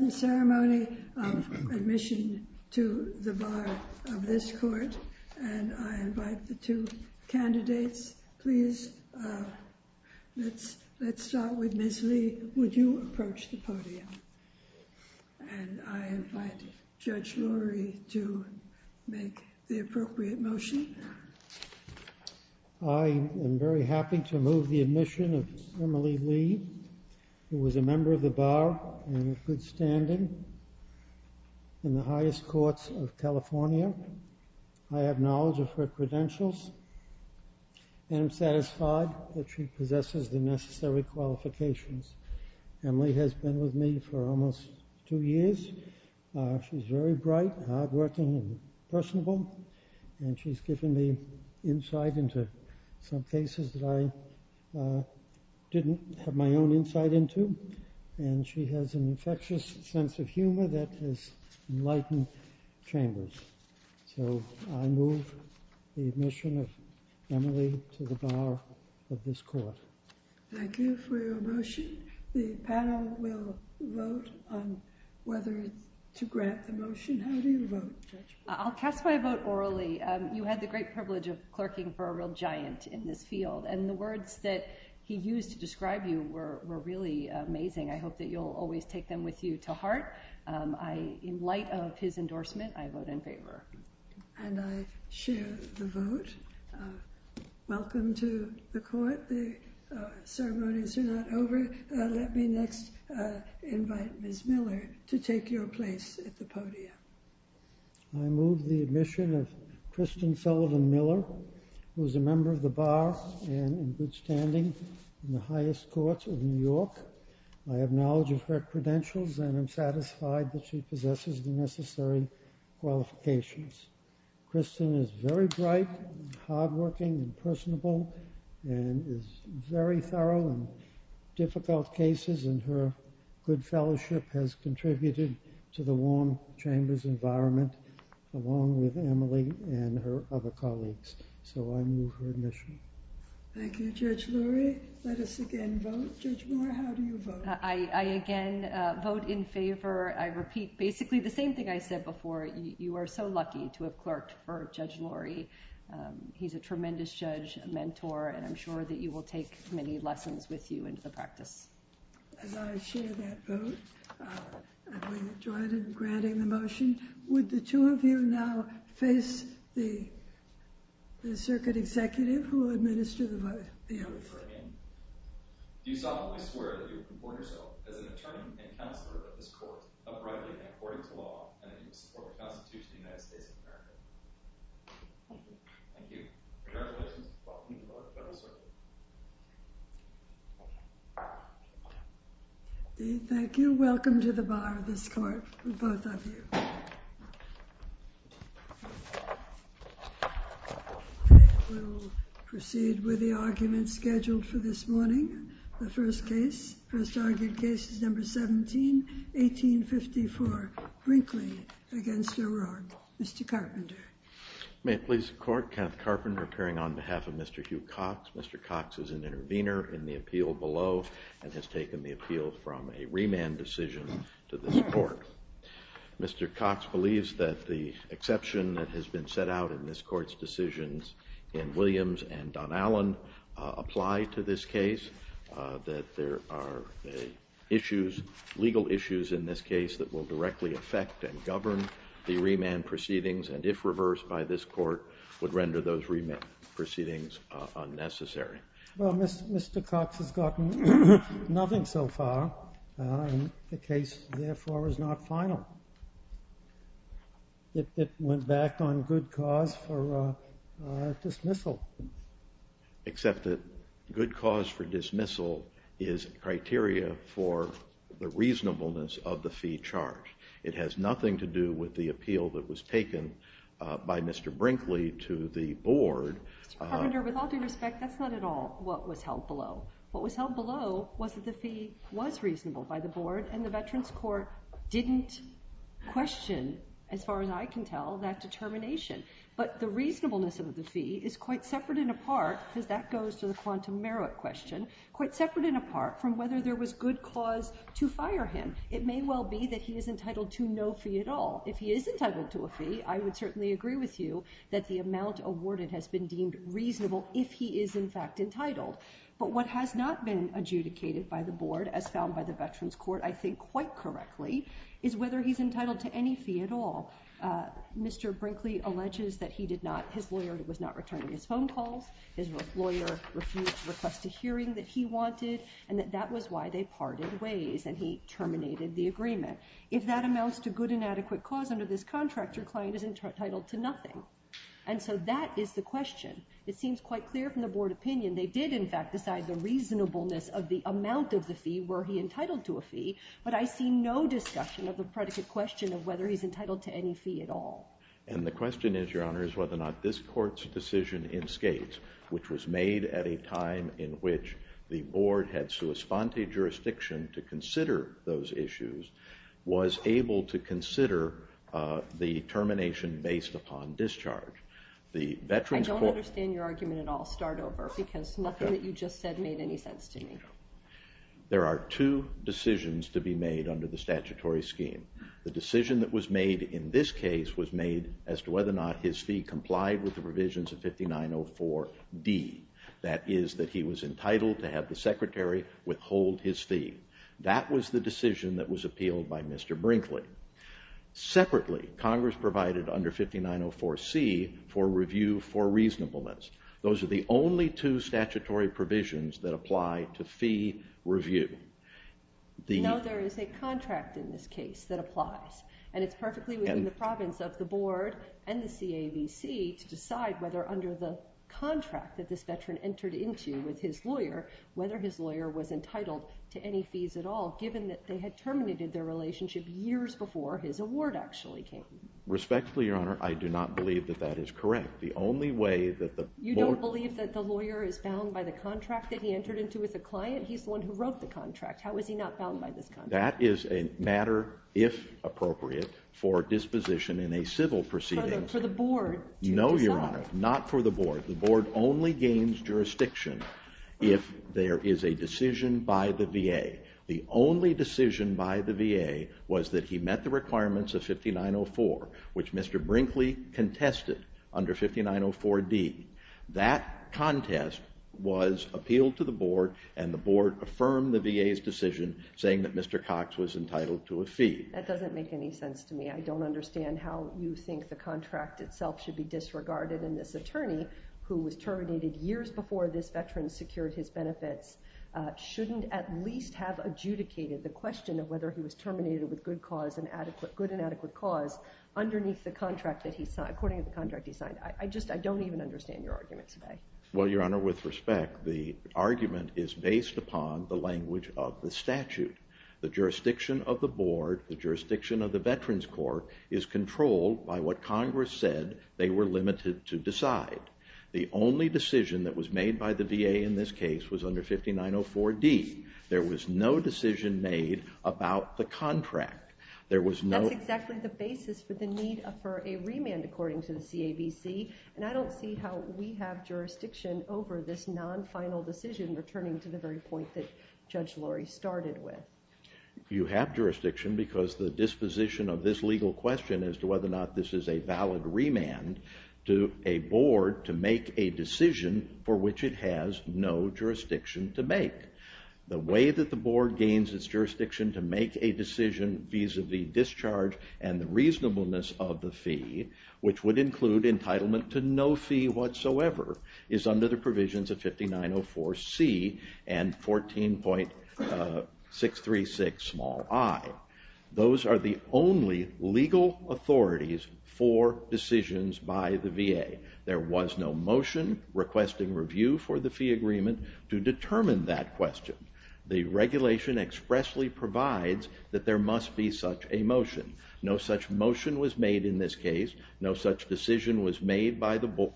The ceremony of admission to the Bar of this Court, and I invite the two candidates, please. Let's start with Ms. Lee. Would you approach the podium? And I invite Judge Lurie to make the appropriate motion. I am very happy to move the admission of Ms. Emily Lee, who is a member of the Bar and in good standing in the highest courts of California. I have knowledge of her credentials, and I'm satisfied that she possesses the necessary qualifications. Emily has been with me for almost two years. She's very bright, hardworking, and personable. And she's given me insight into some cases that I didn't have my own insight into. And she has an infectious sense of humor that has enlightened chambers. So I move the admission of Emily to the Bar of this Court. Thank you for your motion. The panel will vote on whether to grant the motion. How do you vote, Judge? I'll cast my vote orally. You had the great privilege of clerking for a real giant in this field, and the words that he used to describe you were really amazing. I hope that you'll always take them with you to heart. In light of his endorsement, I vote in favor. And I share the vote. Welcome to the Court. The ceremonies are not over. Let me next invite Ms. Miller to take your place at the podium. I move the admission of Kristen Sullivan Miller, who is a member of the Bar and in good standing in the highest courts of New York. I have knowledge of her credentials, and I'm satisfied that she possesses the necessary qualifications. Kristen is very bright, hardworking, and personable, and is very thorough in difficult cases. And her good fellowship has contributed to the warm chamber's environment, along with Emily and her other colleagues. So I move her admission. Thank you, Judge Lurie. Let us again vote. Judge Moore, how do you vote? I again vote in favor. I repeat basically the same thing I said before. You are so lucky to have clerked for Judge Lurie. He's a tremendous judge, a mentor, and I'm sure that you will take many lessons with you into the practice. As I share that vote, I'm going to join in granting the motion. Would the two of you now face the circuit executive, who will administer the oath. Do you solemnly swear that you will comport yourself as an attorney and counselor of this court, uprightly and according to law, and that you will support the Constitution of the United States of America? I do. Thank you. Congratulations. Welcome to the Bar of the Federal Circuit. Thank you. Welcome to the Bar of this Court, both of you. We will proceed with the arguments scheduled for this morning. The first case, first argued case is number 17, 1854, Brinkley v. O'Rourke. Mr. Carpenter. May it please the Court, Kenneth Carpenter appearing on behalf of Mr. Hugh Cox. Mr. Cox is an intervener in the appeal below and has taken the appeal from a remand decision to this Court. Mr. Cox believes that the exception that has been set out in this Court's decisions in Williams and Donallan apply to this case, that there are issues, legal issues in this case that will directly affect and govern the remand proceedings, and if reversed by this Court, would render those remand proceedings unnecessary. Well, Mr. Cox has gotten nothing so far, and the case, therefore, is not final. It went back on good cause for dismissal. Except that good cause for dismissal is criteria for the reasonableness of the fee charged. It has nothing to do with the appeal that was taken by Mr. Brinkley to the Board. Mr. Carpenter, with all due respect, that's not at all what was held below. What was held below was that the fee was reasonable by the Board, and the Veterans Court didn't question, as far as I can tell, that determination. But the reasonableness of the fee is quite separate and apart, because that goes to the quantum merit question, quite separate and apart from whether there was good cause to fire him. It may well be that he is entitled to no fee at all. If he is entitled to a fee, I would certainly agree with you that the amount awarded has been deemed reasonable, if he is, in fact, entitled. But what has not been adjudicated by the Board, as found by the Veterans Court, I think quite correctly, is whether he's entitled to any fee at all. Mr. Brinkley alleges that his lawyer was not returning his phone calls, his lawyer refused to request a hearing that he wanted, and that that was why they parted ways, and he terminated the agreement. If that amounts to good and adequate cause under this contract, your client is entitled to nothing. And so that is the question. It seems quite clear from the Board opinion they did, in fact, decide the reasonableness of the amount of the fee. Were he entitled to a fee? But I see no discussion of the predicate question of whether he's entitled to any fee at all. And the question is, Your Honor, is whether or not this Court's decision in Skates, which was made at a time in which the Board had sua sponte jurisdiction to consider those issues, was able to consider the termination based upon discharge. I don't understand your argument at all. Start over, because nothing that you just said made any sense to me. There are two decisions to be made under the statutory scheme. The decision that was made in this case was made as to whether or not his fee complied with the provisions of 5904D. That is, that he was entitled to have the Secretary withhold his fee. That was the decision that was appealed by Mr. Brinkley. Separately, Congress provided under 5904C for review for reasonableness. Those are the only two statutory provisions that apply to fee review. No, there is a contract in this case that applies. And it's perfectly within the province of the Board and the CAVC to decide whether, under the contract that this veteran entered into with his lawyer, whether his lawyer was entitled to any fees at all, given that they had terminated their relationship years before his award actually came. Respectfully, Your Honor, I do not believe that that is correct. The only way that the Board— You don't believe that the lawyer is bound by the contract that he entered into with a client? He's the one who wrote the contract. How is he not bound by this contract? That is a matter, if appropriate, for disposition in a civil proceeding. For the Board to decide. No, Your Honor, not for the Board. The Board only gains jurisdiction if there is a decision by the VA. The only decision by the VA was that he met the requirements of 5904, which Mr. Brinkley contested under 5904D. That contest was appealed to the Board, and the Board affirmed the VA's decision saying that Mr. Cox was entitled to a fee. That doesn't make any sense to me. I don't understand how you think the contract itself should be disregarded and this attorney, who was terminated years before this veteran secured his benefits, shouldn't at least have adjudicated the question of whether he was terminated with good and adequate cause I just don't even understand your argument today. Well, Your Honor, with respect, the argument is based upon the language of the statute. The jurisdiction of the Board, the jurisdiction of the Veterans Court, is controlled by what Congress said they were limited to decide. The only decision that was made by the VA in this case was under 5904D. There was no decision made about the contract. That's exactly the basis for the need for a remand, according to the CAVC, and I don't see how we have jurisdiction over this non-final decision returning to the very point that Judge Lurie started with. You have jurisdiction because the disposition of this legal question as to whether or not this is a valid remand to a Board to make a decision for which it has no jurisdiction to make. The way that the Board gains its jurisdiction to make a decision vis-a-vis discharge and the reasonableness of the fee, which would include entitlement to no fee whatsoever, is under the provisions of 5904C and 14.636i. Those are the only legal authorities for decisions by the VA. There was no motion requesting review for the fee agreement to determine that question. The regulation expressly provides that there must be such a motion. No such motion was made in this case. No such decision was made by the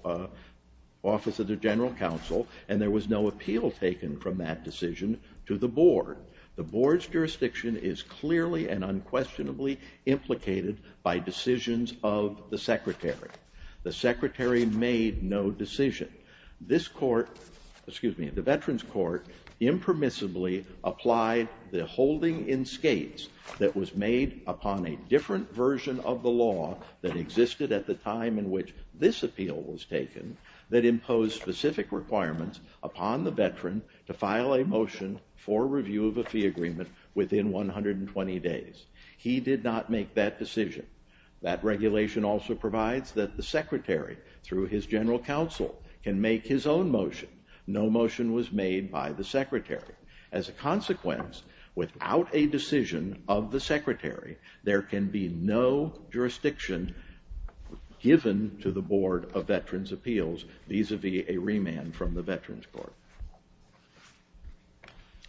Office of the General Counsel, and there was no appeal taken from that decision to the Board. The Board's jurisdiction is clearly and unquestionably implicated by decisions of the Secretary. The Secretary made no decision. The Veterans Court impermissibly applied the holding in skates that was made upon a different version of the law that existed at the time in which this appeal was taken that imposed specific requirements upon the veteran to file a motion for review of a fee agreement within 120 days. He did not make that decision. That regulation also provides that the Secretary, through his General Counsel, can make his own motion. No motion was made by the Secretary. As a consequence, without a decision of the Secretary, there can be no jurisdiction given to the Board of Veterans Appeals vis-a-vis a remand from the Veterans Court.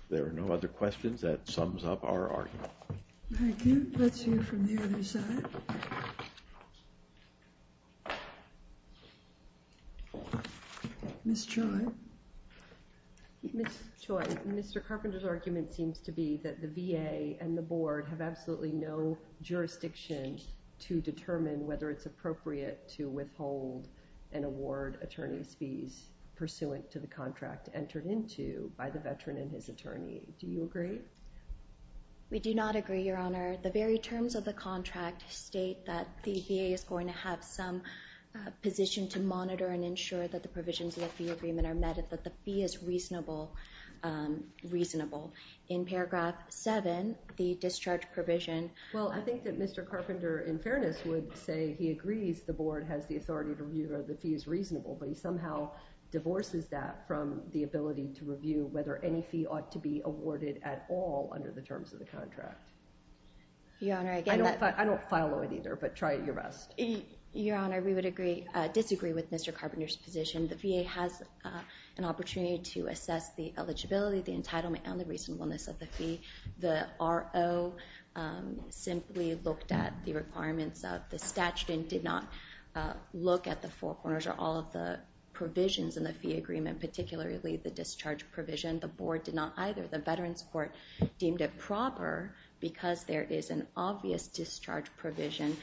There are no other questions? That sums up our argument. Thank you. Let's hear from the other side. Ms. Choi? Ms. Choi, Mr. Carpenter's argument seems to be that the VA and the Board have absolutely no jurisdiction to determine whether it's appropriate to withhold an award attorney's fees pursuant to the contract entered into by the veteran and his attorney. Do you agree? We do not agree, Your Honor. The very terms of the contract state that the VA is going to have some position to monitor and ensure that the provisions of the agreement are met and that the fee is reasonable. In paragraph 7, the discharge provision... Well, I think that Mr. Carpenter, in fairness, would say he agrees the Board has the authority to review whether the fee is reasonable, but he somehow divorces that from the ability to review whether any fee ought to be awarded at all under the terms of the contract. Your Honor, again... I don't follow it either, but try your best. Your Honor, we would disagree with Mr. Carpenter's position. The VA has an opportunity to assess the eligibility, the entitlement, and the reasonableness of the fee. The RO simply looked at the requirements of the statute and did not look at the four corners or all of the provisions in the fee agreement, particularly the discharge provision. The Board did not either. The Veterans Court deemed it proper because there is an obvious discharge provision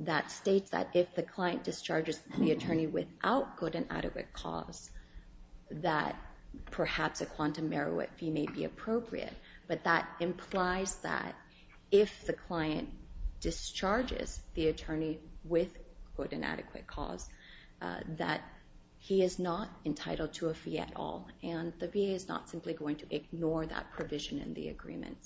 that states that if the client discharges the attorney without good and adequate cause, that perhaps a quantum merit fee may be appropriate. But that implies that if the client discharges the attorney with good and adequate cause, that he is not entitled to a fee at all, and the VA is not simply going to ignore that provision in the agreement.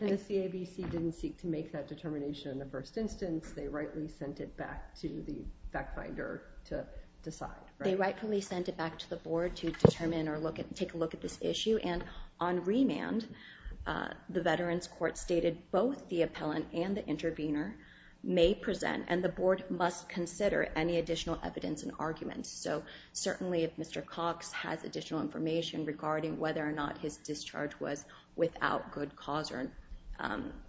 And the CABC didn't seek to make that determination in the first instance. They rightly sent it back to the fact finder to decide. They rightfully sent it back to the Board to determine or take a look at this issue, and on remand, the Veterans Court stated both the appellant and the intervener may present, and the Board must consider any additional evidence and arguments. So certainly if Mr. Cox has additional information regarding whether or not his discharge was without good cause,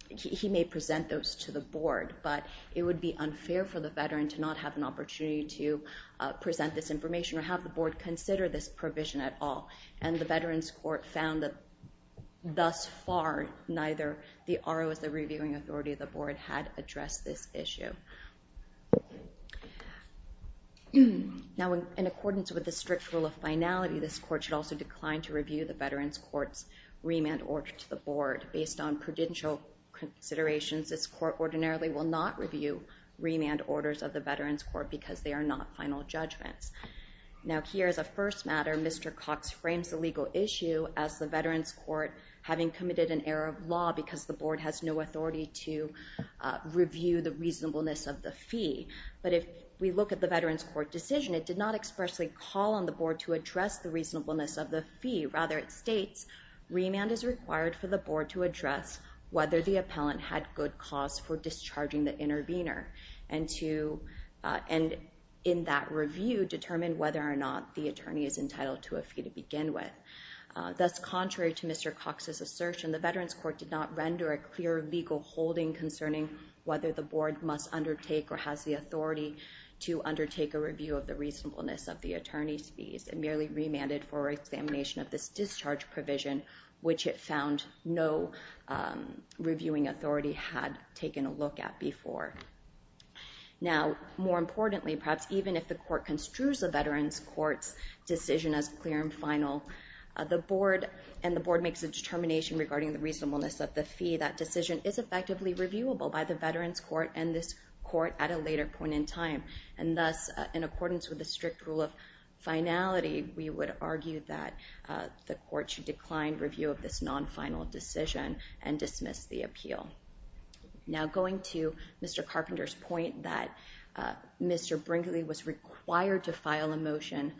he may present those to the Board. But it would be unfair for the veteran to not have an opportunity to present this information or have the Board consider this provision at all. And the Veterans Court found that thus far, neither the RO as the reviewing authority of the Board had addressed this issue. Now in accordance with the strict rule of finality, this Court should also decline to review the Veterans Court's remand order to the Board. Based on prudential considerations, this Court ordinarily will not review remand orders of the Veterans Court because they are not final judgments. Now here is a first matter. Mr. Cox frames the legal issue as the Veterans Court having committed an error of law because the Board has no authority to review the reasonableness of the fee. But if we look at the Veterans Court decision, it did not expressly call on the Board to address the reasonableness of the fee. Rather, it states remand is required for the Board to address whether the appellant had good cause for discharging the intervener, and in that review, determine whether or not the attorney is entitled to a fee to begin with. Thus, contrary to Mr. Cox's assertion, the Veterans Court did not render a clear legal holding concerning whether the Board must undertake or has the authority to undertake a review of the reasonableness of the attorney's fees and merely remanded for examination of this discharge provision, which it found no reviewing authority had taken a look at before. Now, more importantly, perhaps even if the Court construes the Veterans Court's decision as clear and final, and the Board makes a determination regarding the reasonableness of the fee, that decision is effectively reviewable by the Veterans Court and this Court at a later point in time. And thus, in accordance with the strict rule of finality, we would argue that the Court should decline review of this non-final decision and dismiss the appeal. Now, going to Mr. Carpenter's point that Mr. Brinkley was required to file a motion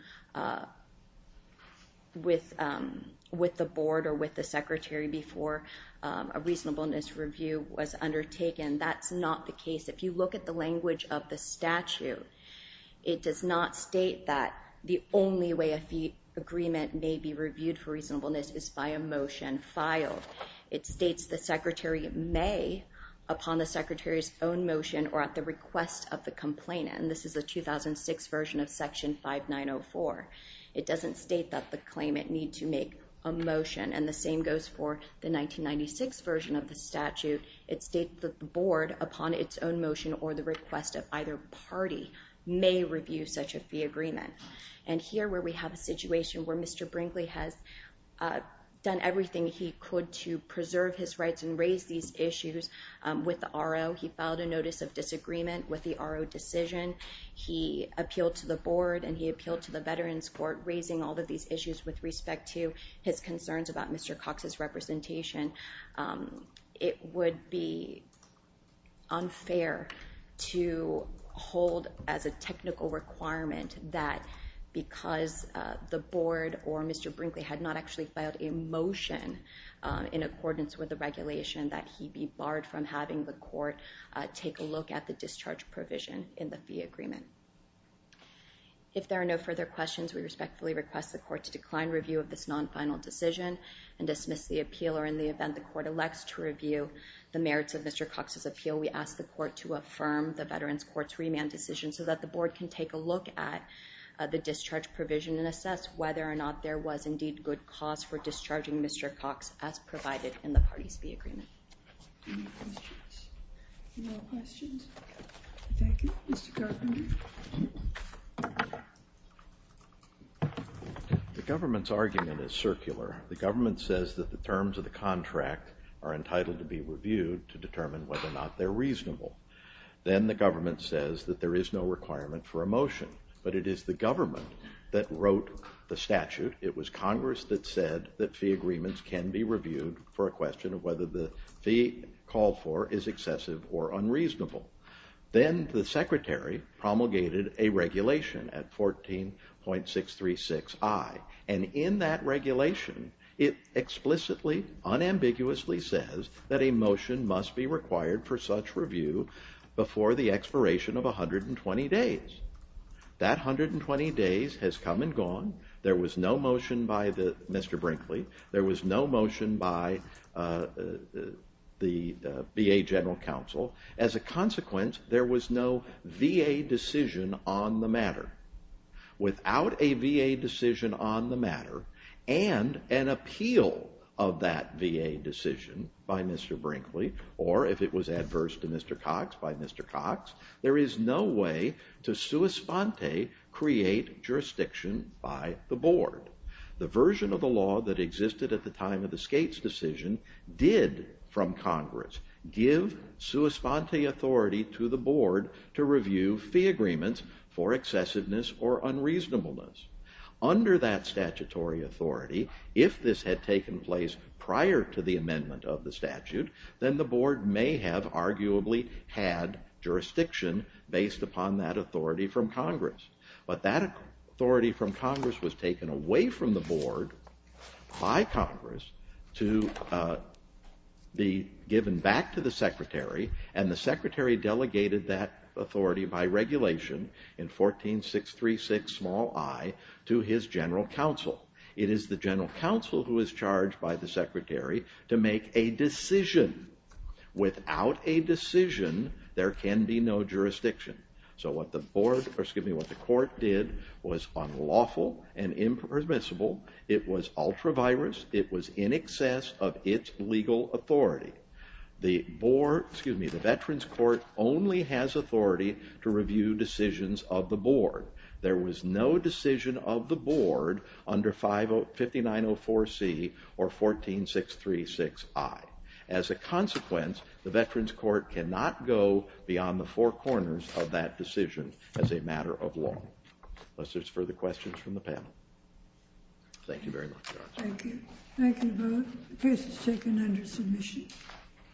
with the Board or with the Secretary before a reasonableness review was undertaken, that's not the case. If you look at the language of the statute, it does not state that the only way a fee agreement may be reviewed for reasonableness is by a motion filed. It states the Secretary may, upon the Secretary's own motion or at the request of the complainant, and this is a 2006 version of Section 5904. It doesn't state that the claimant need to make a motion, and the same goes for the 1996 version of the statute. It states that the Board, upon its own motion or the request of either party, may review such a fee agreement. And here, where we have a situation where Mr. Brinkley has done everything he could to preserve his rights and raise these issues with the RO, he filed a notice of disagreement with the RO decision. He appealed to the Board and he appealed to the Veterans Court, raising all of these issues with respect to his concerns about Mr. Cox's representation. It would be unfair to hold as a technical requirement that because the Board or Mr. Brinkley had not actually filed a motion in accordance with the regulation, that he be barred from having the Court take a look at the discharge provision in the fee agreement. If there are no further questions, we respectfully request the Court to decline review of this non-final decision and dismiss the appeal, or in the event the Court elects to review the merits of Mr. Cox's appeal, we ask the Court to affirm the Veterans Court's remand decision so that the Board can take a look at the discharge provision and assess whether or not there was indeed good cause for discharging Mr. Cox as provided in the party's fee agreement. Any questions? No questions? Thank you. Mr. Garfinder? The government's argument is circular. The government says that the terms of the contract are entitled to be reviewed to determine whether or not they're reasonable. Then the government says that there is no requirement for a motion, but it is the government that wrote the statute. It was Congress that said that fee agreements can be reviewed for a question of whether the fee called for is excessive or unreasonable. Then the Secretary promulgated a regulation at 14.636i, and in that regulation, it explicitly, unambiguously says that a motion must be required for such review before the expiration of 120 days. That 120 days has come and gone. There was no motion by Mr. Brinkley. There was no motion by the VA General Counsel. As a consequence, there was no VA decision on the matter. Without a VA decision on the matter and an appeal of that VA decision by Mr. Brinkley, or if it was adverse to Mr. Cox by Mr. Cox, there is no way to sua sponte create jurisdiction by the board. The version of the law that existed at the time of the Skates decision did, from Congress, give sua sponte authority to the board to review fee agreements for excessiveness or unreasonableness. Under that statutory authority, if this had taken place prior to the amendment of the statute, then the board may have arguably had jurisdiction based upon that authority from Congress. But that authority from Congress was taken away from the board by Congress to be given back to the Secretary, and the Secretary delegated that authority by regulation in 14.636i to his General Counsel. It is the General Counsel who is charged by the Secretary to make a decision. Without a decision, there can be no jurisdiction. So what the board, excuse me, what the court did was unlawful and impermissible. It was ultra-virus. It was in excess of its legal authority. The board, excuse me, the Veterans Court only has authority to review decisions of the board. There was no decision of the board under 5904C or 14.636i. As a consequence, the Veterans Court cannot go beyond the four corners of that decision as a matter of law. Unless there's further questions from the panel. Thank you very much. Thank you. Thank you both. The case is taken under submission.